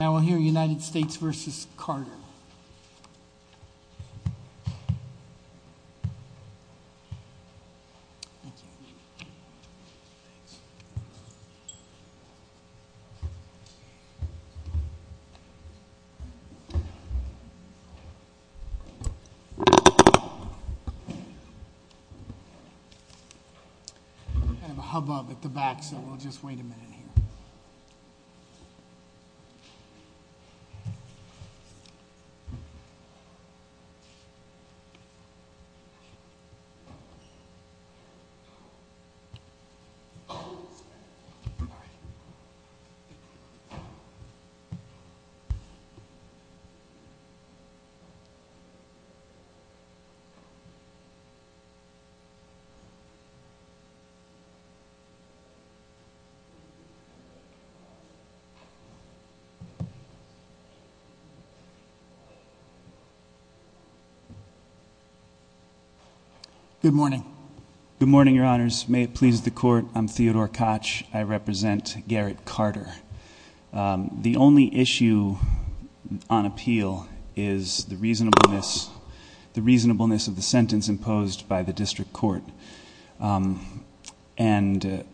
Now we'll hear United States v. Carter. I have a hubbub at the back, so we'll just wait a minute here. All right. All right. Good morning. Good morning, Your Honors. May it please the Court, I'm Theodore Koch. I represent Garrett Carter. The only issue on appeal is the reasonableness of the sentence imposed by the district court. And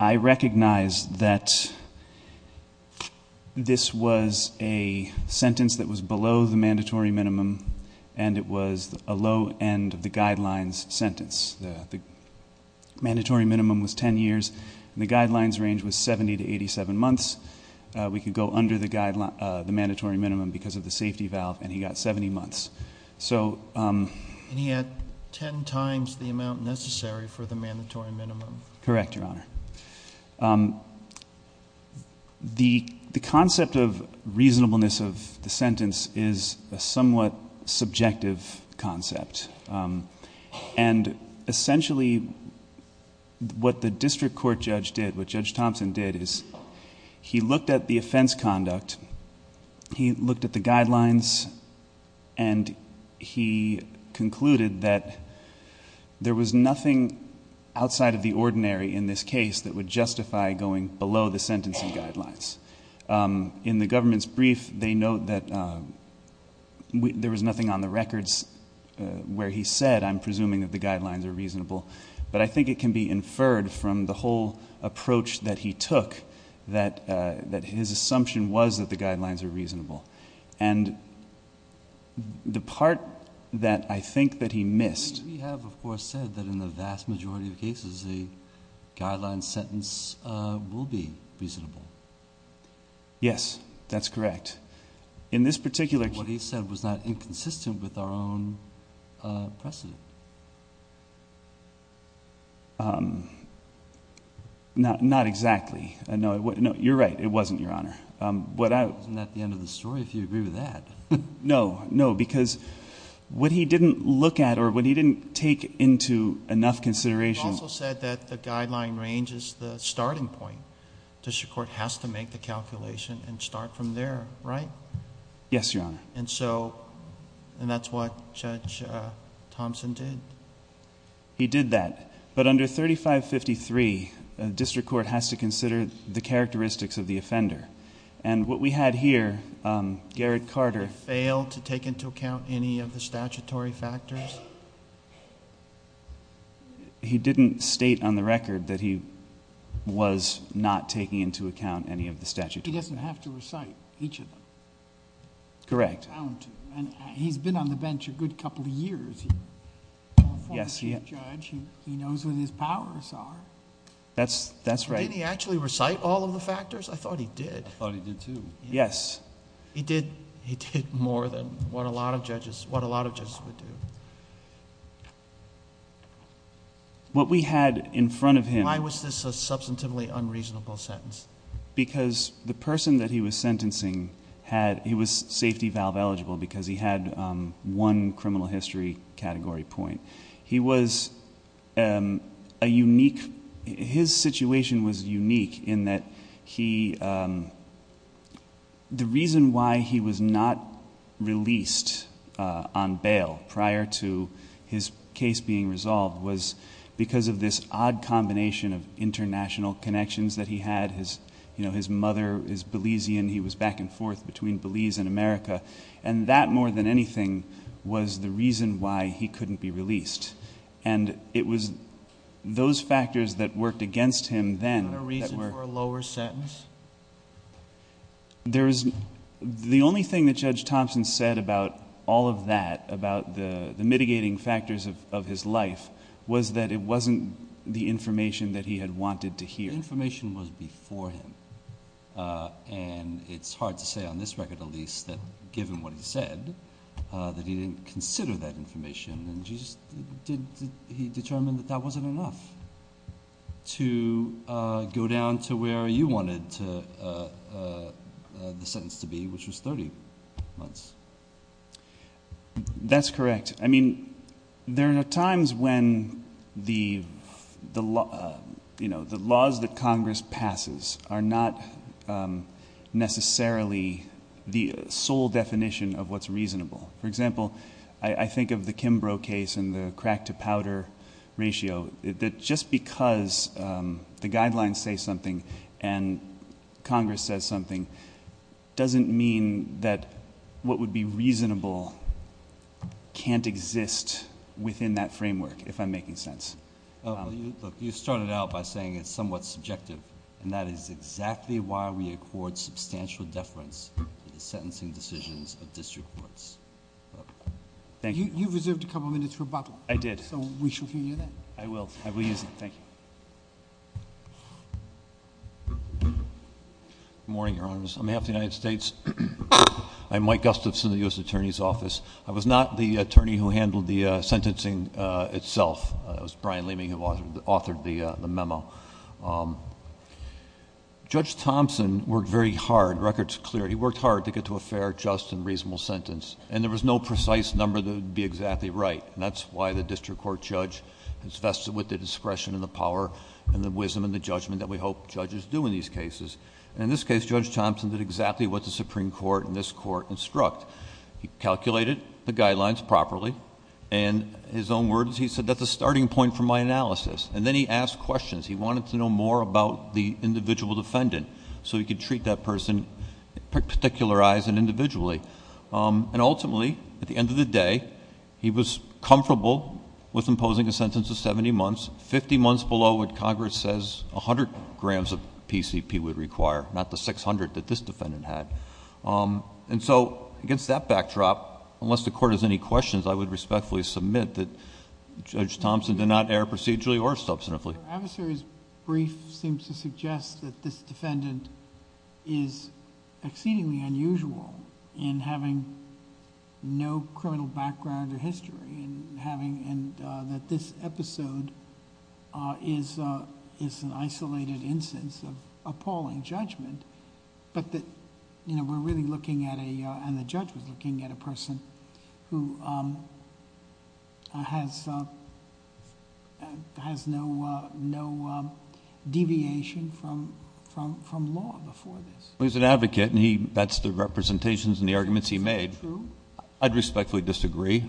I recognize that this was a sentence that was below the mandatory minimum, and it was a low end of the guidelines sentence. The mandatory minimum was 10 years, and the guidelines range was 70 to 87 months. We could go under the mandatory minimum because of the safety valve, and he got 70 months. And he had 10 times the amount necessary for the mandatory minimum. Correct, Your Honor. The concept of reasonableness of the sentence is a somewhat subjective concept. And essentially what the district court judge did, what Judge Thompson did, he looked at the offense conduct, he looked at the guidelines, and he concluded that there was nothing outside of the ordinary in this case that would justify going below the sentencing guidelines. In the government's brief, they note that there was nothing on the records where he said, I'm presuming that the guidelines are reasonable. But I think it can be inferred from the whole approach that he took that his assumption was that the guidelines are reasonable. And the part that I think that he missed. We have, of course, said that in the vast majority of cases, the guidelines sentence will be reasonable. Yes, that's correct. What he said was not inconsistent with our own precedent. Not exactly. No, you're right. It wasn't, Your Honor. Isn't that the end of the story if you agree with that? No, no, because what he didn't look at or what he didn't take into enough consideration. He also said that the guideline range is the starting point. District court has to make the calculation and start from there, right? Yes, Your Honor. And that's what Judge Thompson did? He did that. But under 3553, district court has to consider the characteristics of the offender. And what we had here, Garrett Carter... Did he fail to take into account any of the statutory factors? He didn't state on the record that he was not taking into account any of the statutory factors. He doesn't have to recite each of them? Correct. He's been on the bench a good couple of years. Yes. He's a judge. He knows what his powers are. That's right. Didn't he actually recite all of the factors? I thought he did. I thought he did, too. Yes. He did more than what a lot of judges would do. What we had in front of him... Why was this a substantively unreasonable sentence? Because the person that he was sentencing had... He was safety valve eligible because he had one criminal history category point. He was a unique... His situation was unique in that he... The reason why he was not released on bail prior to his case being resolved was because of this odd combination of international connections that he had. His mother is Belizean. He was back and forth between Belize and America. That, more than anything, was the reason why he couldn't be released. It was those factors that worked against him then... Is there a reason for a lower sentence? The only thing that Judge Thompson said about all of that, about the mitigating factors of his life, was that it wasn't the information that he had wanted to hear. The information was before him. It's hard to say on this record, at least, that given what he said, that he didn't consider that information. He determined that that wasn't enough to go down to where you wanted the sentence to be, which was 30 months. That's correct. I mean, there are times when the laws that Congress passes are not necessarily the sole definition of what's reasonable. For example, I think of the Kimbrough case and the crack to powder ratio. Just because the guidelines say something and Congress says something, doesn't mean that what would be reasonable can't exist within that framework, if I'm making sense. You started out by saying it's somewhat subjective, and that is exactly why we accord substantial deference to the sentencing decisions of district courts. Thank you. You reserved a couple of minutes for Bob. I did. So we should hear that. I will. I will use it. Thank you. Good morning, Your Honors. On behalf of the United States, I'm Mike Gustafson of the U.S. Attorney's Office. I was not the attorney who handled the sentencing itself. It was Brian Leeming who authored the memo. Judge Thompson worked very hard, record's clear. He worked hard to get to a fair, just, and reasonable sentence, and there was no precise number that would be exactly right. And that's why the district court judge is vested with the discretion and the power and the wisdom and the judgment that we hope judges do in these cases. And in this case, Judge Thompson did exactly what the Supreme Court and this court instruct. He calculated the guidelines properly. And his own words, he said, that's a starting point for my analysis. And then he asked questions. He wanted to know more about the individual defendant so he could treat that person particularized and individually. And ultimately, at the end of the day, he was comfortable with imposing a sentence of 70 months. Fifty months below what Congress says 100 grams of PCP would require, not the 600 that this defendant had. And so, against that backdrop, unless the court has any questions, I would respectfully submit that Judge Thompson did not err procedurally or substantively. Your adversary's brief seems to suggest that this defendant is exceedingly unusual in having no criminal background or history. And that this episode is an isolated instance of appalling judgment. But that we're really looking at a, and the judge was looking at a person who has no deviation from law before this. He's an advocate and that's the representations and the arguments he made. I'd respectfully disagree.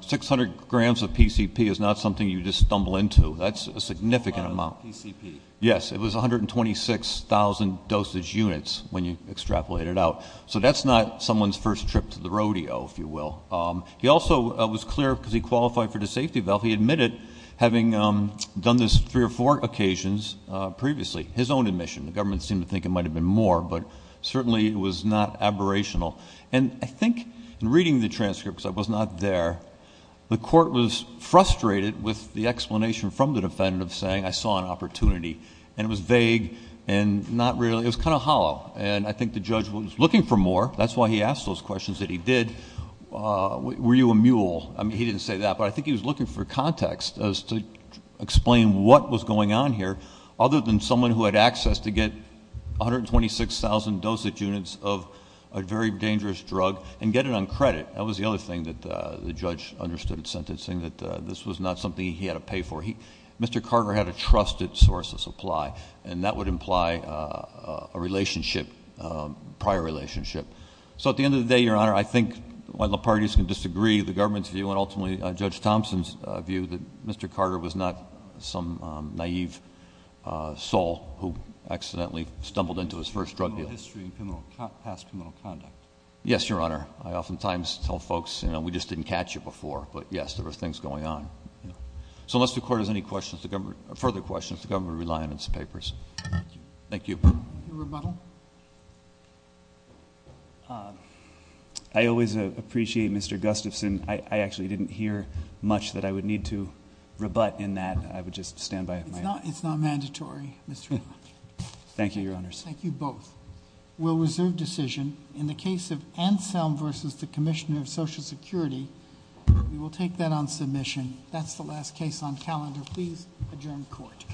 600 grams of PCP is not something you just stumble into. That's a significant amount. A lot of PCP. Yes, it was 126,000 dosage units when you extrapolated out. So that's not someone's first trip to the rodeo, if you will. He also was clear because he qualified for the safety belt. He admitted having done this three or four occasions previously, his own admission. The government seemed to think it might have been more, but certainly it was not aberrational. And I think in reading the transcripts, I was not there. The court was frustrated with the explanation from the defendant of saying, I saw an opportunity. And it was vague and not really, it was kind of hollow. And I think the judge was looking for more. That's why he asked those questions that he did. Were you a mule? I mean, he didn't say that, but I think he was looking for context as to explain what was going on here, other than someone who had access to get 126,000 dosage units of a very dangerous drug and get it on credit. That was the other thing that the judge understood in sentencing, that this was not something he had to pay for. Mr. Carter had a trusted source of supply, and that would imply a relationship, a prior relationship. So at the end of the day, Your Honor, I think while the parties can disagree, the government's view, and ultimately Judge Thompson's view, that Mr. Carter was not some naive soul who accidentally stumbled into his first drug deal. Criminal history and past criminal conduct. Yes, Your Honor. I oftentimes tell folks, you know, we just didn't catch it before. But yes, there were things going on. So unless the court has any further questions, the government will rely on its papers. Thank you. Thank you. Your rebuttal. I always appreciate Mr. Gustafson. I actually didn't hear much that I would need to rebut in that. I would just stand by it. It's not mandatory. Thank you, Your Honors. Thank you both. We'll reserve decision in the case of Anselm versus the Commissioner of Social Security. We will take that on submission. That's the last case on calendar. Please adjourn court.